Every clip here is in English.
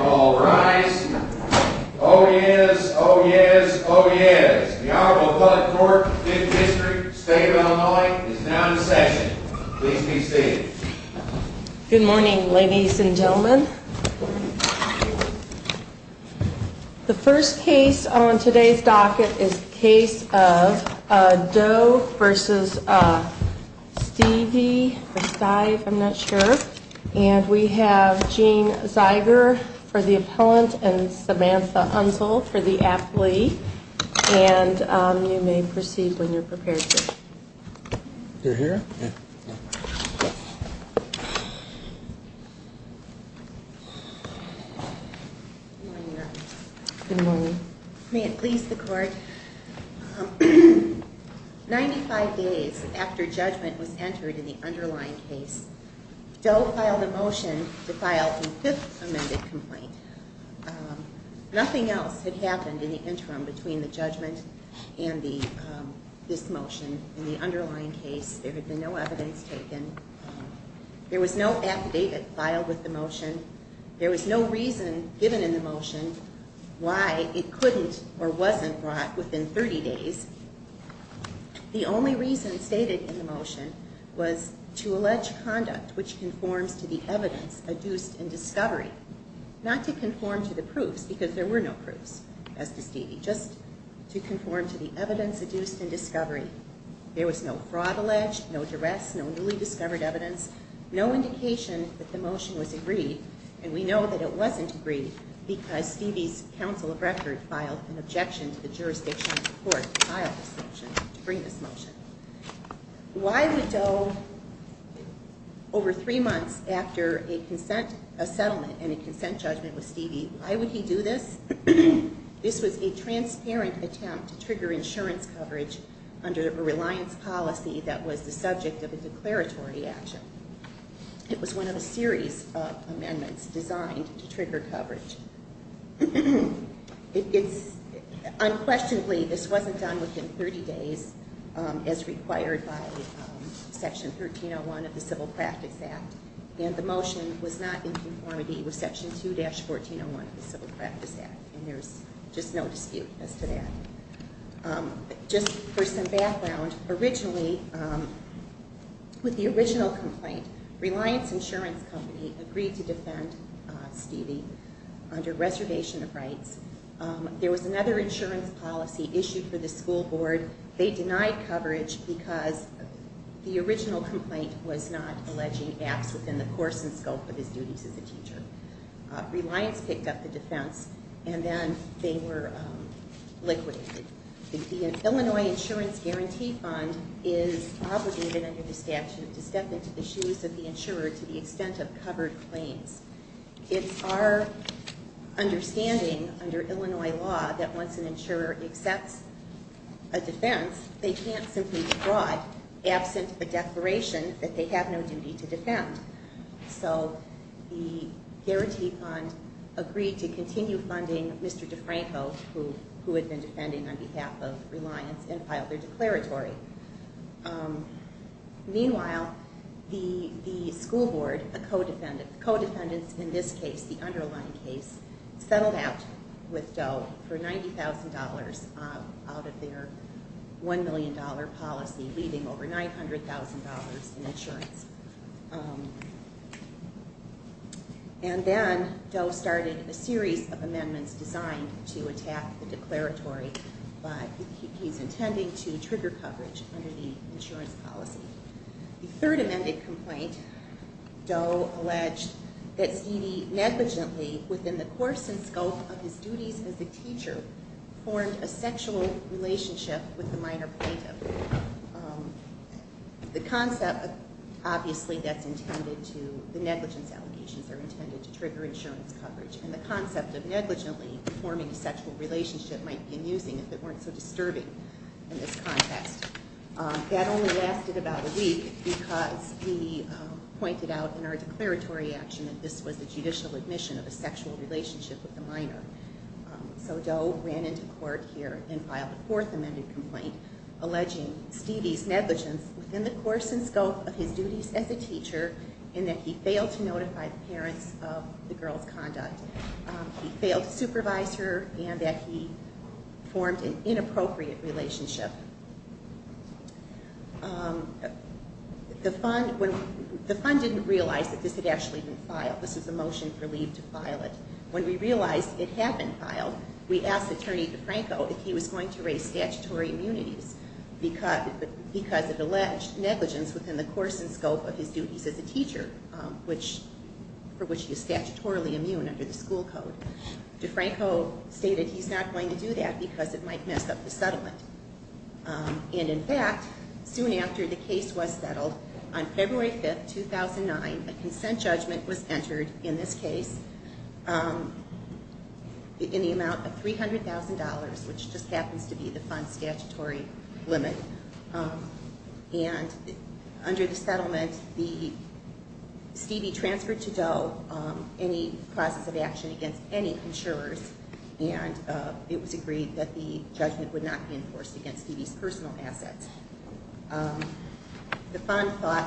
All rise. Oh yes, oh yes, oh yes. The Honorable Blood Court, 5th District, State of Illinois, is now in session. Please be seated. Good morning, ladies and gentlemen. The first case on today's docket is the case of Doe v. Styve. I'm not sure. And we have Gene Zeiger for the appellant and Samantha Unzel for the athlete. And you may proceed when you're prepared to. You're here? Yeah. Good morning, Your Honor. Good morning. May it please the Court. Ninety-five days after judgment was entered in the underlying case, Doe filed a motion to file the fifth amended complaint. Nothing else had happened in the interim between the judgment and this motion in the underlying case. There had been no evidence taken. There was no affidavit filed with the motion. There was no reason given in the motion why it couldn't or wasn't brought within 30 days. The only reason stated in the motion was to allege conduct which conforms to the evidence adduced in discovery, not to conform to the proofs because there were no proofs as to Styve, just to conform to the evidence adduced in discovery. There was no fraud alleged, no duress, no newly discovered evidence, no indication that the motion was agreed. And we know that it wasn't agreed because Styve's counsel of record filed an objection to the jurisdiction of the Court to file this motion, to bring this motion. Why would Doe, over three months after a consent settlement and a consent judgment with Styve, why would he do this? This was a transparent attempt to trigger insurance coverage under a reliance policy that was the subject of a declaratory action. It was one of a series of amendments designed to trigger coverage. Unquestionably, this wasn't done within 30 days as required by Section 1301 of the Civil Practice Act, and the motion was not in conformity with Section 2-1401 of the Civil Practice Act, and there's just no dispute as to that. Just for some background, originally, with the original complaint, Reliance Insurance Company agreed to defend Styve under reservation of rights. There was another insurance policy issued for the school board. They denied coverage because the original complaint was not alleging gaps within the course and scope of his duties as a teacher. Reliance picked up the defense, and then they were liquidated. The Illinois Insurance Guarantee Fund is obligated under the statute to step into the shoes of the insurer to the extent of covered claims. It's our understanding under Illinois law that once an insurer accepts a defense, they can't simply withdraw it absent a declaration that they have no duty to defend. So the Guarantee Fund agreed to continue funding Mr. DeFranco, who had been defending on behalf of Reliance, and filed their declaratory. Meanwhile, the school board, the co-defendants in this case, the underlying case, settled out with Doe for $90,000 out of their $1 million policy, leaving over $900,000 in insurance. And then Doe started a series of amendments designed to attack the declaratory, but he's intending to trigger coverage under the insurance policy. The third amended complaint, Doe alleged that Styve negligently, within the course and scope of his duties as a teacher, formed a sexual relationship with the minor plaintiff. The concept, obviously that's intended to, the negligence allegations are intended to trigger insurance coverage, and the concept of negligently forming a sexual relationship might be amusing if it weren't so disturbing in this context. That only lasted about a week because he pointed out in our declaratory action that this was the judicial admission of a sexual relationship with the minor. So Doe ran into court here and filed a fourth amended complaint alleging Styve's negligence within the course and scope of his duties as a teacher, and that he failed to notify the parents of the girl's conduct. He failed to supervise her, and that he formed an inappropriate relationship. The fund, the fund didn't realize that this had actually been filed. This was a motion for leave to file it. When we realized it had been filed, we asked Attorney DeFranco if he was going to raise statutory immunities because it alleged negligence within the course and scope of his duties as a teacher, for which he is statutorily immune under the school code. DeFranco stated he's not going to do that because it might mess up the settlement. And in fact, soon after the case was settled, on February 5th, 2009, a consent judgment was entered in this case in the amount of $300,000, which just happens to be the fund's statutory limit. And under the settlement, Styve transferred to Doe any process of action against any insurers, and it was agreed that the judgment would not be enforced against Stevie's personal assets. The fund thought,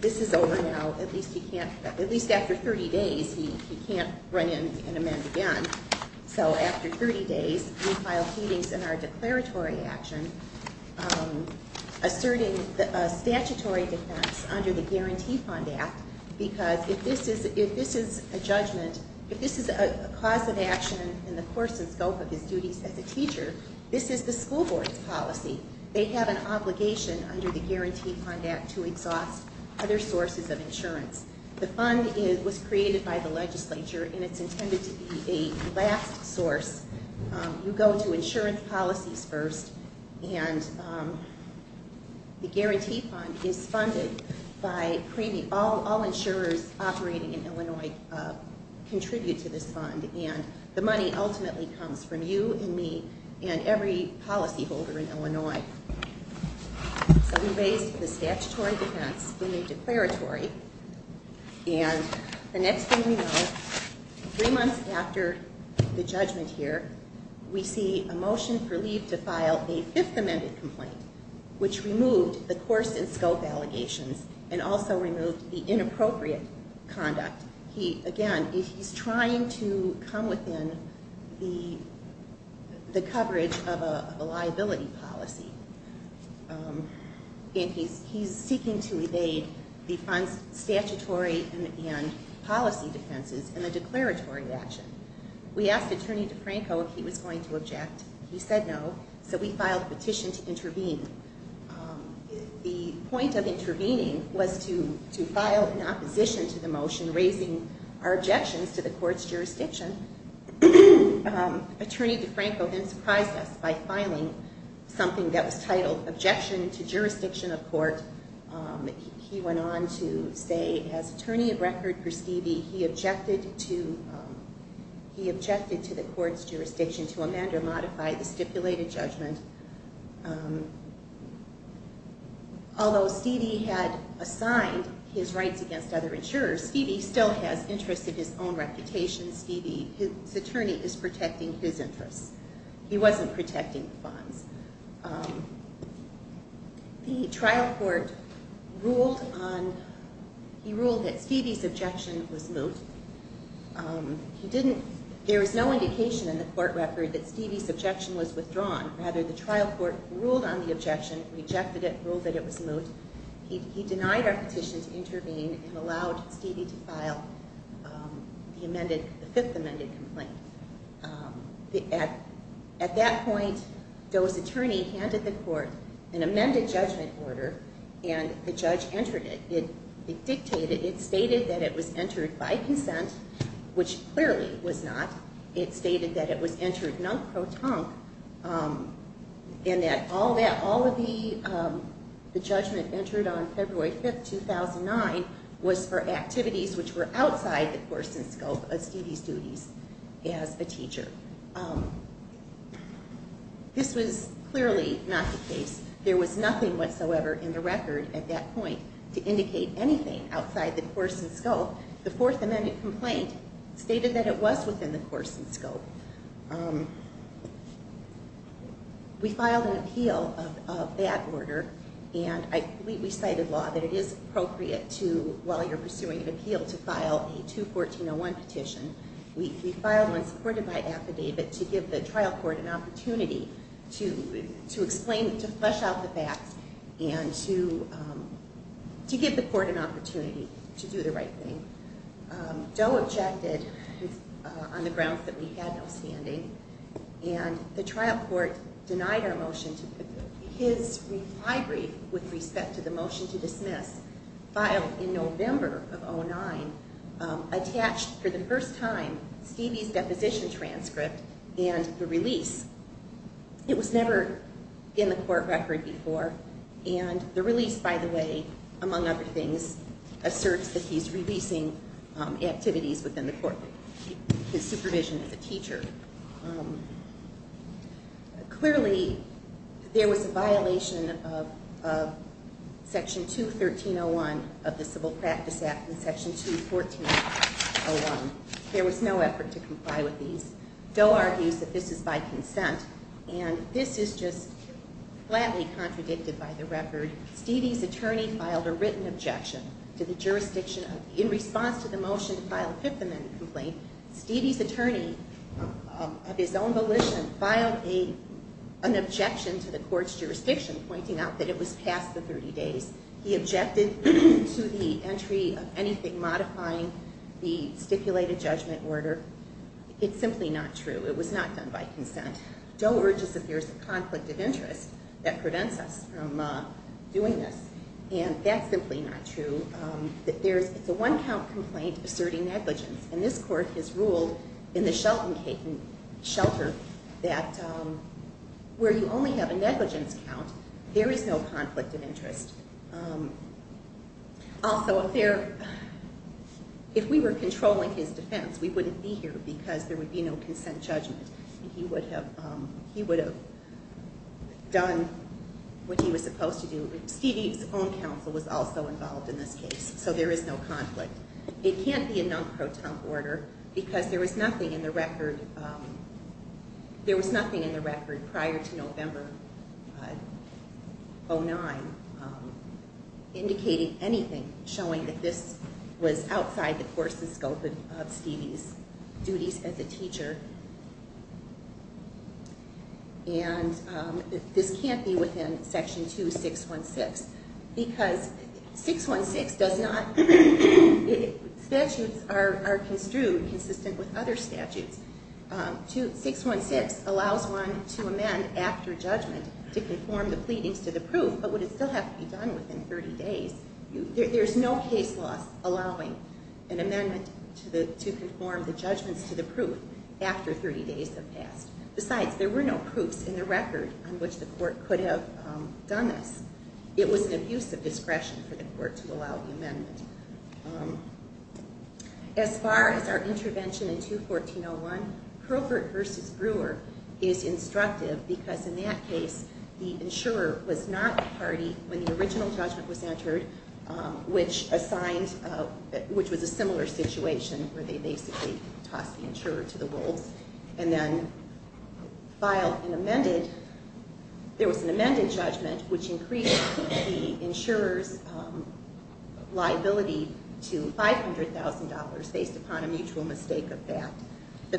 this is over now, at least he can't, at least after 30 days, he can't run in and amend again. So after 30 days, we filed heedings in our declaratory action, asserting a statutory defense under the Guarantee Fund Act, because if this is a judgment, if this is a cause of action in the course and scope of his duties as a teacher, this is the school board's policy. They have an obligation under the Guarantee Fund Act to exhaust other sources of insurance. The fund was created by the legislature, and it's intended to be a last source. You go to insurance policies first, and the Guarantee Fund is funded by premium. All insurers operating in Illinois contribute to this fund, and the money ultimately comes from you and me and every policyholder in Illinois. So we raised the statutory defense in the declaratory, and the next thing we know, three months after the judgment here, we see a motion for leave to file a Fifth Amendment complaint, which removed the course and scope allegations and also removed the inappropriate conduct. Again, he's trying to come within the coverage of a liability policy, and he's seeking to evade the fund's statutory and policy defenses in a declaratory action. We asked Attorney DeFranco if he was going to object. He said no, so we filed a petition to intervene. The point of intervening was to file an opposition to the motion, raising our objections to the court's jurisdiction. Attorney DeFranco then surprised us by filing something that was titled Objection to Jurisdiction of Court. He went on to say, as attorney of record for Stevie, he objected to the court's jurisdiction to amend or modify the stipulated judgment. Although Stevie had assigned his rights against other insurers, Stevie still has interests of his own reputation. Stevie, his attorney, is protecting his interests. He wasn't protecting the funds. The trial court ruled that Stevie's objection was moot. There was no indication in the court record that Stevie's objection was withdrawn. Rather, the trial court ruled on the objection, rejected it, ruled that it was moot. He denied our petition to intervene and allowed Stevie to file the fifth amended complaint. At that point, Doe's attorney handed the court an amended judgment order, and the judge entered it. It dictated, it stated that it was entered by consent, which clearly was not. It stated that it was entered non-croton, and that all of the judgment entered on February 5th, 2009, was for activities which were outside the course and scope of Stevie's duties as a teacher. This was clearly not the case. There was nothing whatsoever in the record at that point to indicate anything outside the course and scope. The fourth amended complaint stated that it was within the course and scope. We filed an appeal of that order, and I believe we cited law that it is appropriate to, while you're pursuing an appeal, to file a 214-01 petition. We filed one supported by affidavit to give the trial court an opportunity to explain, to flesh out the facts, and to give the court an opportunity to do the right thing. Doe objected on the grounds that we had no standing, and the trial court denied our motion. His reply brief with respect to the motion to dismiss, filed in November of 2009, attached for the first time Stevie's deposition transcript and the release. It was never in the court record before, and the release, by the way, among other things, asserts that he's releasing activities within the court, his supervision as a teacher. Clearly, there was a violation of Section 213-01 of the Civil Practice Act, and Section 214-01. There was no effort to comply with these. Doe argues that this is by consent, and this is just flatly contradicted by the record. Stevie's attorney filed a written objection to the jurisdiction. In response to the motion to file a Fifth Amendment complaint, Stevie's attorney, of his own volition, filed an objection to the court's jurisdiction, pointing out that it was past the 30 days. He objected to the entry of anything modifying the stipulated judgment order. It's simply not true. It was not done by consent. Doe urges that there's a conflict of interest that prevents us from doing this, and that's simply not true. It's a one-count complaint asserting negligence, and this court has ruled in the Shelton Shelter that where you only have a negligence count, there is no conflict of interest. Also, if we were controlling his defense, we wouldn't be here because there would be no consent judgment, and he would have done what he was supposed to do. Stevie's own counsel was also involved in this case, so there is no conflict. It can't be a non-proton order because there was nothing in the record prior to November 2009 indicating anything showing that this was outside the course and scope of Stevie's duties as a teacher, and this can't be within Section 2616 because 616 does not... Statutes are construed consistent with other statutes. 616 allows one to amend after judgment to conform the pleadings to the proof, but would it still have to be done within 30 days? There's no case law allowing an amendment to conform the judgments to the proof after 30 days have passed. Besides, there were no proofs in the record on which the court could have done this. It was an abuse of discretion for the court to allow the amendment. As far as our intervention in 214-01, Herbert v. Brewer is instructive because in that case the insurer was not the party when the original judgment was entered, which was a similar situation where they basically tossed the insurer to the wolves and then filed an amended... There was an amended judgment which increased the insurer's liability to $500,000 based upon a mutual mistake of that. The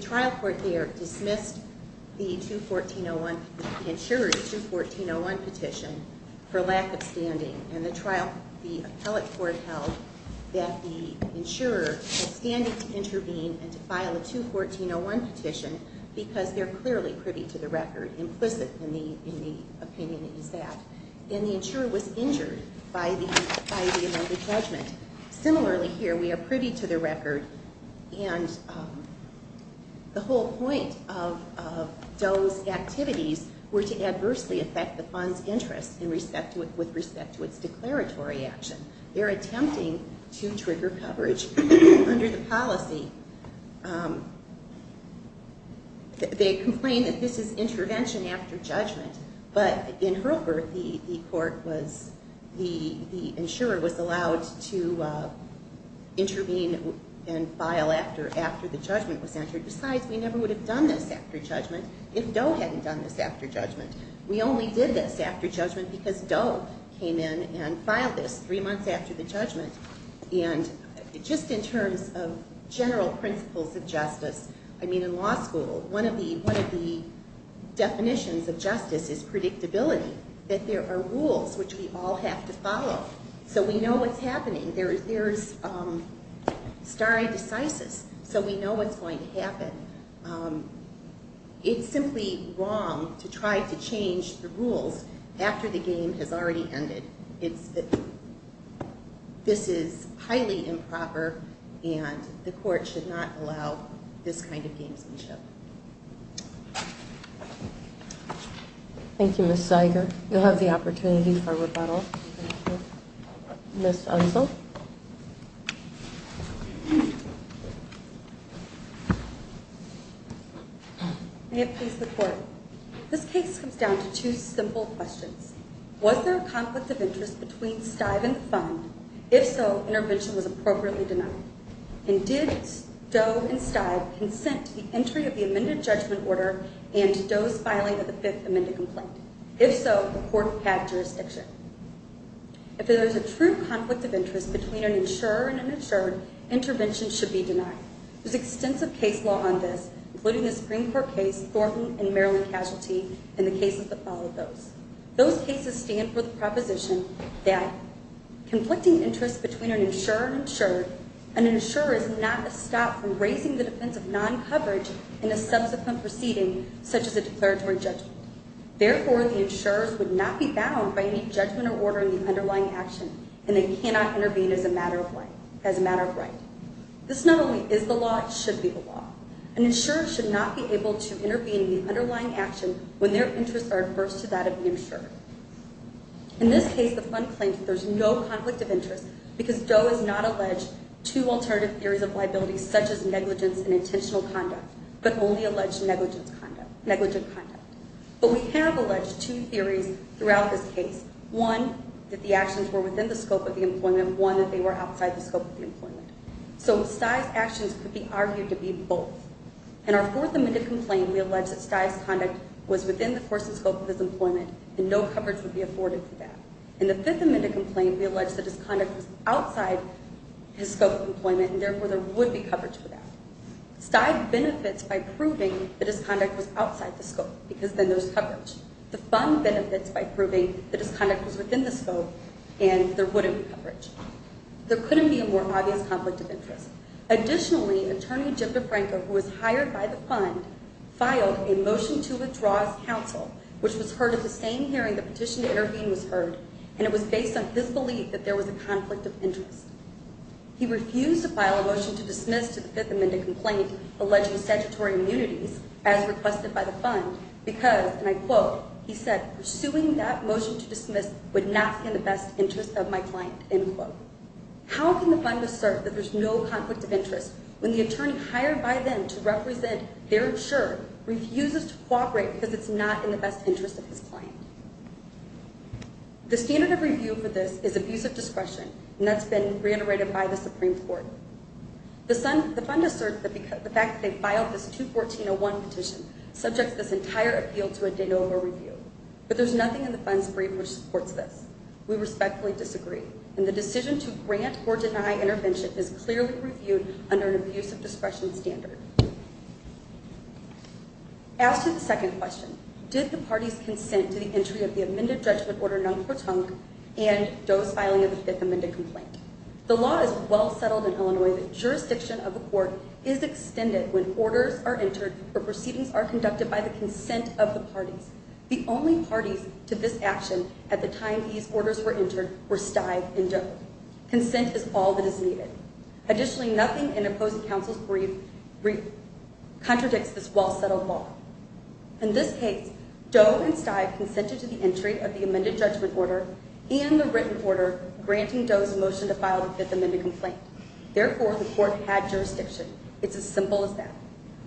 trial court there dismissed the insurer's 214-01 petition for lack of standing, and the appellate court held that the insurer had standing to intervene and to file a 214-01 petition because they're clearly privy to the record, implicit in the opinion is that. And the insurer was injured by the amended judgment. Similarly here, we are privy to the record and the whole point of Doe's activities were to adversely affect the fund's interest with respect to its declaratory action. They're attempting to trigger coverage under the policy. They complain that this is intervention after judgment, but in Herbert, the court was... after the judgment was entered. Besides, we never would have done this after judgment if Doe hadn't done this after judgment. We only did this after judgment because Doe came in and filed this 3 months after the judgment. And just in terms of general principles of justice, I mean, in law school, one of the definitions of justice is predictability, that there are rules which we all have to follow so we know what's happening. There's stare decisis, so we know what's going to happen. It's simply wrong to try to change the rules after the game has already ended. This is highly improper, and the court should not allow this kind of gamesmanship. Thank you, Ms. Zeiger. You'll have the opportunity for rebuttal. Ms. Hudson. May it please the court. This case comes down to two simple questions. Was there a conflict of interest between Stive and the fund? If so, intervention was appropriately denied. And did Doe and Stive consent to the entry of the amended judgment order and Doe's filing of the Fifth Amendment complaint? If so, the court had jurisdiction. If there is a true conflict of interest between an insurer and an insured, intervention should be denied. There's extensive case law on this, including the Supreme Court case Thornton and Maryland Casualty and the cases that followed those. Those cases stand for the proposition that conflicting interests between an insurer and insured, an insurer is not a stop from raising the defense of non-coverage in a subsequent proceeding such as a declaratory judgment. Therefore, the insurers would not be bound by any judgment or order in the underlying action and they cannot intervene as a matter of right. This not only is the law, it should be the law. An insurer should not be able to intervene in the underlying action when their interests are adverse to that of the insured. In this case, the fund claims that there's no conflict of interest because Doe has not alleged two alternative theories of liability such as negligence and intentional conduct, but only alleged negligent conduct. But we have alleged two theories throughout this case. One, that the actions were within the scope of the employment. One, that they were outside the scope of the employment. So Stye's actions could be argued to be both. In our Fourth Amendment complaint, we allege that Stye's conduct was within the course and scope of his employment and no coverage would be afforded for that. In the Fifth Amendment complaint, we allege that his conduct was outside his scope of employment and therefore there would be coverage for that. Stye benefits by proving that his conduct was outside the scope because then there's coverage. The fund benefits by proving that his conduct was within the scope and there wouldn't be coverage. There couldn't be a more obvious conflict of interest. Additionally, Attorney Jim DeFranco, who was hired by the fund, filed a motion to withdraw his counsel, which was heard at the same hearing the petition to intervene was heard, and it was based on his belief that there was a conflict of interest. He refused to file a motion to dismiss the Fifth Amendment complaint alleging statutory immunities, as requested by the fund, because, and I quote, he said, pursuing that motion to dismiss would not be in the best interest of my client. End quote. How can the fund assert that there's no conflict of interest when the attorney hired by them to represent their insurer refuses to cooperate because it's not in the best interest of his client? The standard of review for this is abuse of discretion, and that's been reiterated by the Supreme Court. The fund asserts that the fact that they filed this 214-01 petition subjects this entire appeal to a de novo review, but there's nothing in the fund's brief which supports this. We respectfully disagree, and the decision to grant or deny intervention is clearly reviewed under an abuse of discretion standard. As to the second question, did the parties consent to the entry of the amended judgment order, and Doe's filing of the Fifth Amendment complaint? The law is well settled in Illinois that jurisdiction of the court is extended when orders are entered or proceedings are conducted by the consent of the parties. The only parties to this action at the time these orders were entered were Stive and Doe. Consent is all that is needed. Additionally, nothing in opposing counsel's brief contradicts this well-settled law. In this case, Doe and Stive consented to the entry of the amended judgment order and the written order granting Doe's motion to file the Fifth Amendment complaint. Therefore, the court had jurisdiction. It's as simple as that.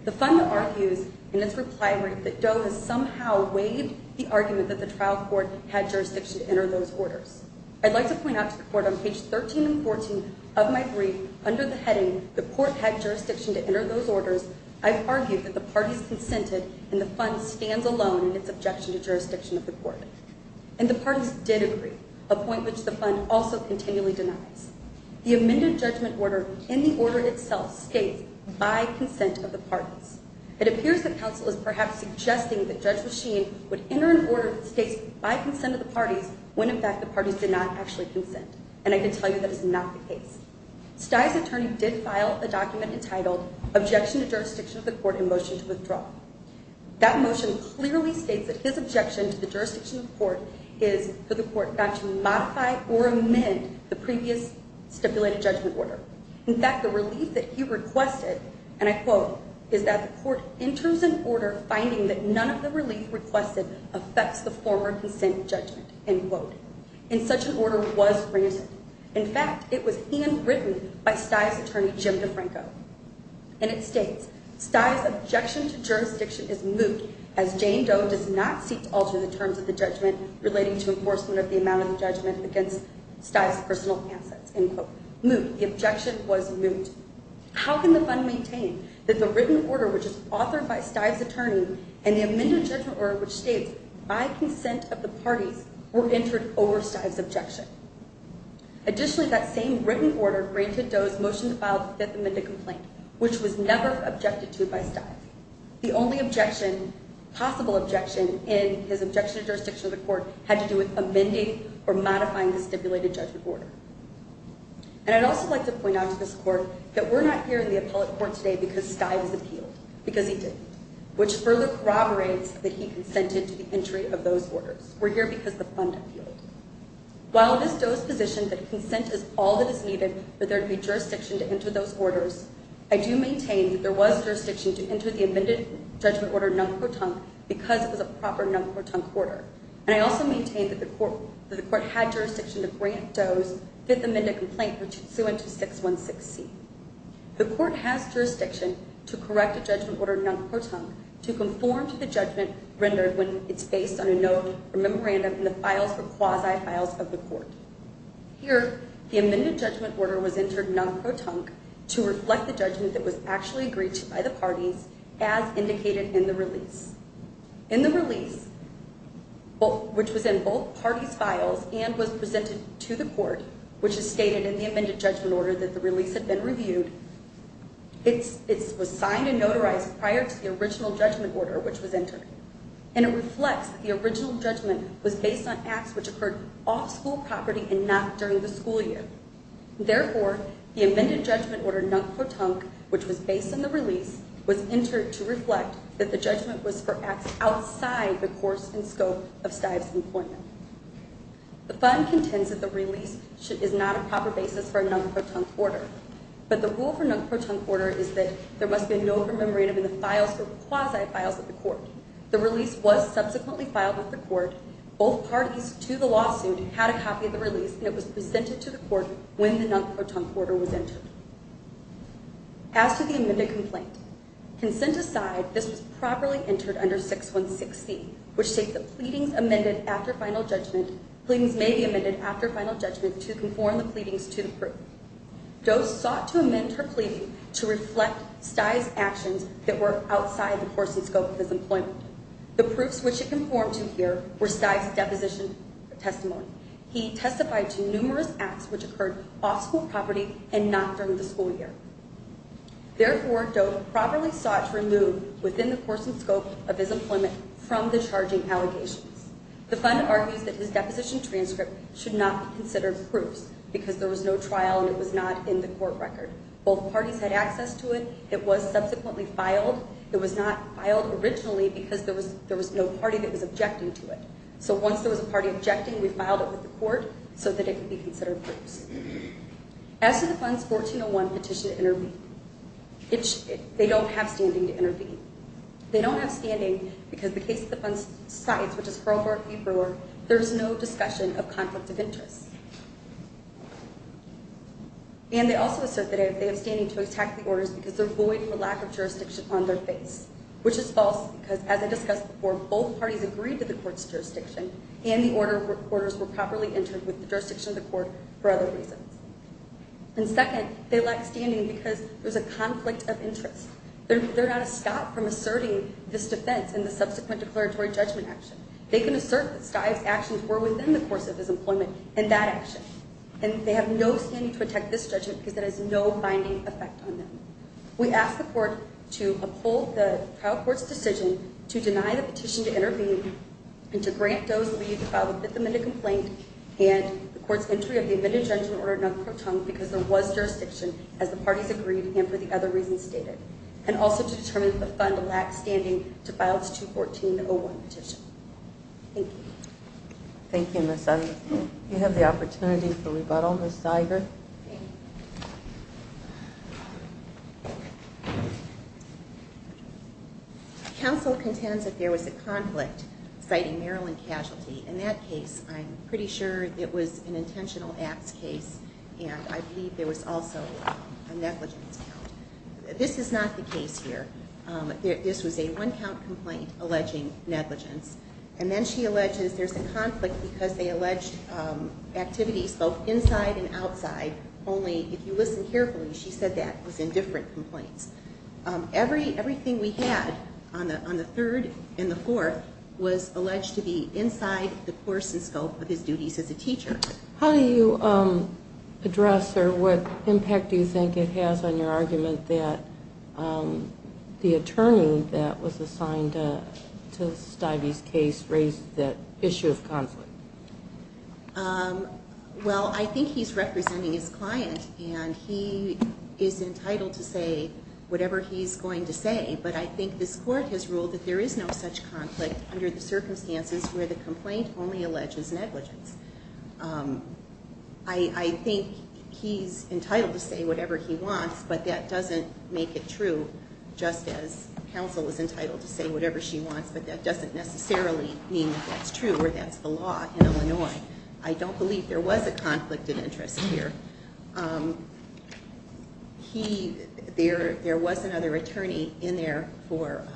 The fund argues in its reply that Doe has somehow waived the argument that the trial court had jurisdiction to enter those orders. I'd like to point out to the court on page 13 and 14 of my brief, under the heading, the court had jurisdiction to enter those orders, I've argued that the parties consented and the fund stands alone in its objection to jurisdiction of the court. And the parties did agree, a point which the fund also continually denies. The amended judgment order, in the order itself, states by consent of the parties. It appears that counsel is perhaps suggesting that Judge Machine would enter an order that states by consent of the parties when, in fact, the parties did not actually consent. And I can tell you that is not the case. Stive's attorney did file a document entitled Objection to Jurisdiction of the Court in Motion to Withdraw. That motion clearly states that his objection to the jurisdiction of the court is that the court got to modify or amend the previous stipulated judgment order. In fact, the relief that he requested, and I quote, is that the court enters an order finding that none of the relief requested affects the former consent judgment, end quote. And such an order was granted. In fact, it was handwritten by Stive's attorney, Jim DeFranco. And it states, Stive's objection to jurisdiction is moot as Jane Doe does not seek to alter the terms of the judgment relating to enforcement of the amount of judgment against Stive's personal assets, end quote. Moot. The objection was moot. How can the fund maintain that the written order, which is authored by Stive's attorney, and the amended judgment order, which states by consent of the parties, were entered over Stive's objection? Additionally, that same written order granted Doe's motion to file the fifth amended complaint, which was never objected to by Stive. The only objection, possible objection, in his objection to jurisdiction of the court had to do with amending or modifying the stipulated judgment order. And I'd also like to point out to this court that we're not here in the appellate court today because Stive has appealed. Because he did. Which further corroborates that he consented to the entry of those orders. We're here because the fund appealed. While it is Doe's position that consent is all that is needed for there to be jurisdiction to enter those orders, I do maintain that there was jurisdiction to enter the amended judgment order non-court-tongue because it was a proper non-court-tongue order. And I also maintain that the court had jurisdiction to grant Doe's fifth amended complaint, which he'd sue into 616C. The court has jurisdiction to correct a judgment order non-court-tongue to conform to the judgment rendered when it's based on a note or memorandum in the files or quasi-files of the court. Here, the amended judgment order was entered non-court-tongue to reflect the judgment that was actually agreed to by the parties as indicated in the release. In the release, which was in both parties' files and was presented to the court, which is stated in the amended judgment order that the release had been reviewed, it was signed and notarized prior to the original judgment order which was entered. And it reflects that the original judgment was based on acts which occurred off school property and not during the school year. Therefore, the amended judgment order non-court-tongue, which was based on the release, was entered to reflect that the judgment was for acts outside the course and scope of Stive's employment. The fund contends that the release is not a proper basis for a non-court-tongue order, but the rule for non-court-tongue order is that there must be a note or memorandum in the files or quasi-files of the court. The release was subsequently filed with the court. Both parties to the lawsuit had a copy of the release, and it was presented to the court when the non-court-tongue order was entered. As to the amended complaint, consent aside, this was properly entered under 6160, which states that pleadings may be amended after final judgment to conform the pleadings to the proof. Doe sought to amend her pleading to reflect Stive's actions that were outside the course and scope of his employment. The proofs which it conformed to here were Stive's deposition testimony. He testified to numerous acts which occurred off school property and not during the school year. Therefore, Doe properly sought to remove, within the course and scope of his employment, from the charging allegations. The fund argues that his deposition transcript should not be considered proofs because there was no trial and it was not in the court record. Both parties had access to it. It was subsequently filed. It was not filed originally because there was no party that was objecting to it. So once there was a party objecting, we filed it with the court so that it could be considered proofs. As to the fund's 1401 petition to intervene, they don't have standing to intervene. And they also assert that they have standing to attack the orders because they're void for lack of jurisdiction on their face, which is false because, as I discussed before, both parties agreed to the court's jurisdiction and the orders were properly entered with the jurisdiction of the court for other reasons. And second, they lack standing because there's a conflict of interest. They're not a stop from asserting this defense in the subsequent declaratory judgment action. They can assert that Stive's actions were within the course of his employment in that action. And they have no standing to attack this judgment because it has no binding effect on them. We asked the court to uphold the trial court's decision to deny the petition to intervene and to grant Doe's leave to file a fifth amendment complaint and the court's entry of the amended judgment order non-court-tongue because there was jurisdiction, as the parties agreed and for the other reasons stated, and also to determine that the fund lacks standing to file its 214-01 petition. Thank you. Thank you, Ms. Evans. You have the opportunity for rebuttal, Ms. Zeiger. Thank you. Counsel contends that there was a conflict citing Maryland casualty. In that case, I'm pretty sure it was an intentional acts case and I believe there was also a negligence count. This is not the case here. This was a one-count complaint alleging negligence. And then she alleges there's a conflict because they alleged activities both inside and outside, only if you listen carefully, she said that was in different complaints. Everything we had on the third and the fourth was alleged to be inside the course and scope of his duties as a teacher. How do you address or what impact do you think it has on your argument that the attorney that was assigned to Stivey's case raised that issue of conflict? Well, I think he's representing his client and he is entitled to say whatever he's going to say, but I think this court has ruled that there is no such conflict under the circumstances where the complaint only alleges negligence. I think he's entitled to say whatever he wants, but that doesn't make it true just as counsel is entitled to say whatever she wants, but that doesn't necessarily mean that's true or that's the law in Illinois. I don't believe there was a conflict of interest here. There was another attorney in there for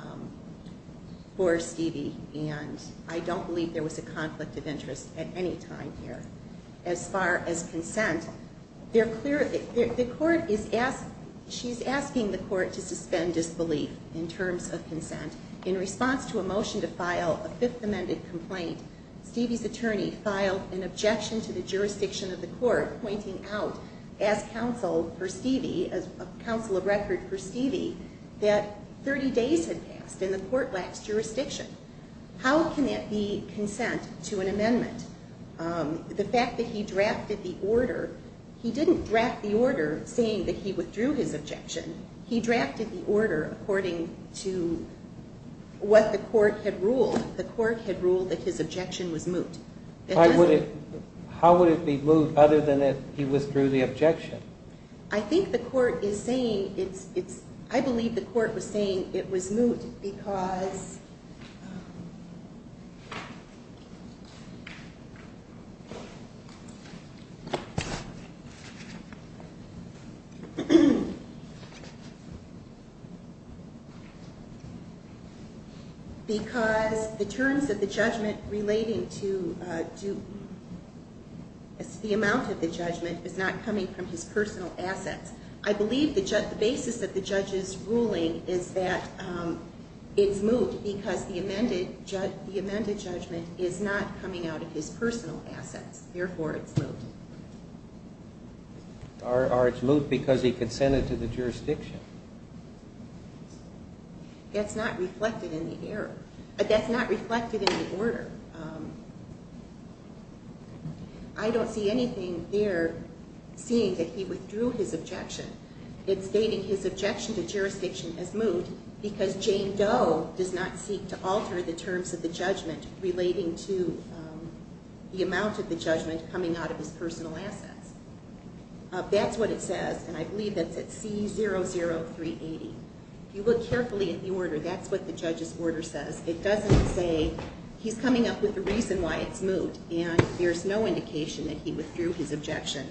Stivey and I don't believe there was a conflict of interest at any time here. As far as consent, she's asking the court to suspend disbelief in terms of consent. In response to a motion to file a Fifth Amendment complaint, Stivey's attorney filed an objection to the jurisdiction of the court pointing out as counsel of record for Stivey that 30 days had passed and the court lacks jurisdiction. How can that be consent to an amendment? The fact that he drafted the order, he didn't draft the order saying that he withdrew his objection. He drafted the order according to what the court had ruled. The court had ruled that his objection was moot. How would it be moot other than if he withdrew the objection? I believe the court was saying it was moot because the terms of the judgment relating to the amount of the judgment is not coming from his personal assets. I believe the basis of the judge's ruling is that it's moot because the amended judgment is not coming out of his personal assets. Therefore, it's moot. Or it's moot because he consented to the jurisdiction. That's not reflected in the order. I don't see anything there saying that he withdrew his objection. It's stating his objection to jurisdiction is moot because Jane Doe does not seek to alter the terms of the judgment relating to the amount of the judgment coming out of his personal assets. That's what it says, and I believe that's at C00380. If you look carefully at the order, that's what the judge's order says. It doesn't say he's coming up with a reason why it's moot, and there's no indication that he withdrew his objection.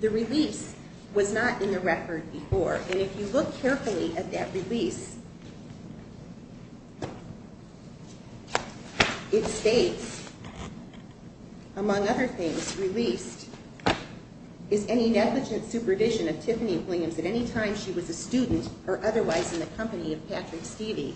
The release was not in the record before, and if you look carefully at that release, it states, among other things, released is any negligent supervision of Tiffany Williams at any time she was a student or otherwise in the company of Patrick Stevie.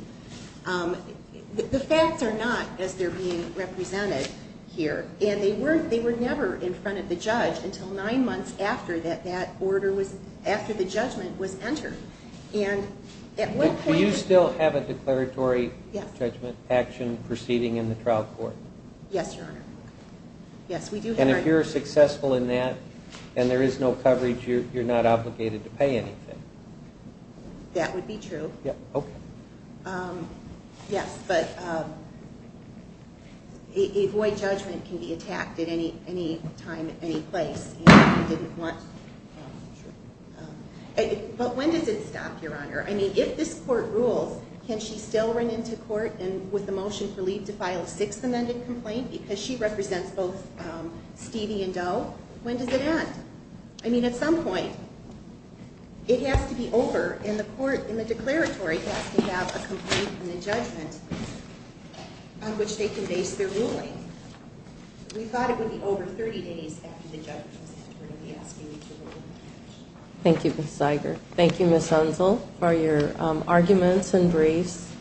The facts are not as they're being represented here, and they were never in front of the judge until nine months after the judgment was entered. Do you still have a declaratory judgment action proceeding in the trial court? Yes, Your Honor. And if you're successful in that and there is no coverage, you're not obligated to pay anything? That would be true. Yes, but a void judgment can be attacked at any time, any place. But when does it stop, Your Honor? I mean, if this court rules, can she still run into court with the motion for leave to file a sixth amended complaint because she represents both Stevie and Doe? When does it end? I mean, at some point, it has to be over, and the court in the declaratory has to have a complaint in the judgment on which they can base their ruling. We thought it would be over 30 days after the judgment was entered and be asking you to rule. Thank you, Ms. Zeiger. Thank you, Ms. Unzel, for your arguments and briefs.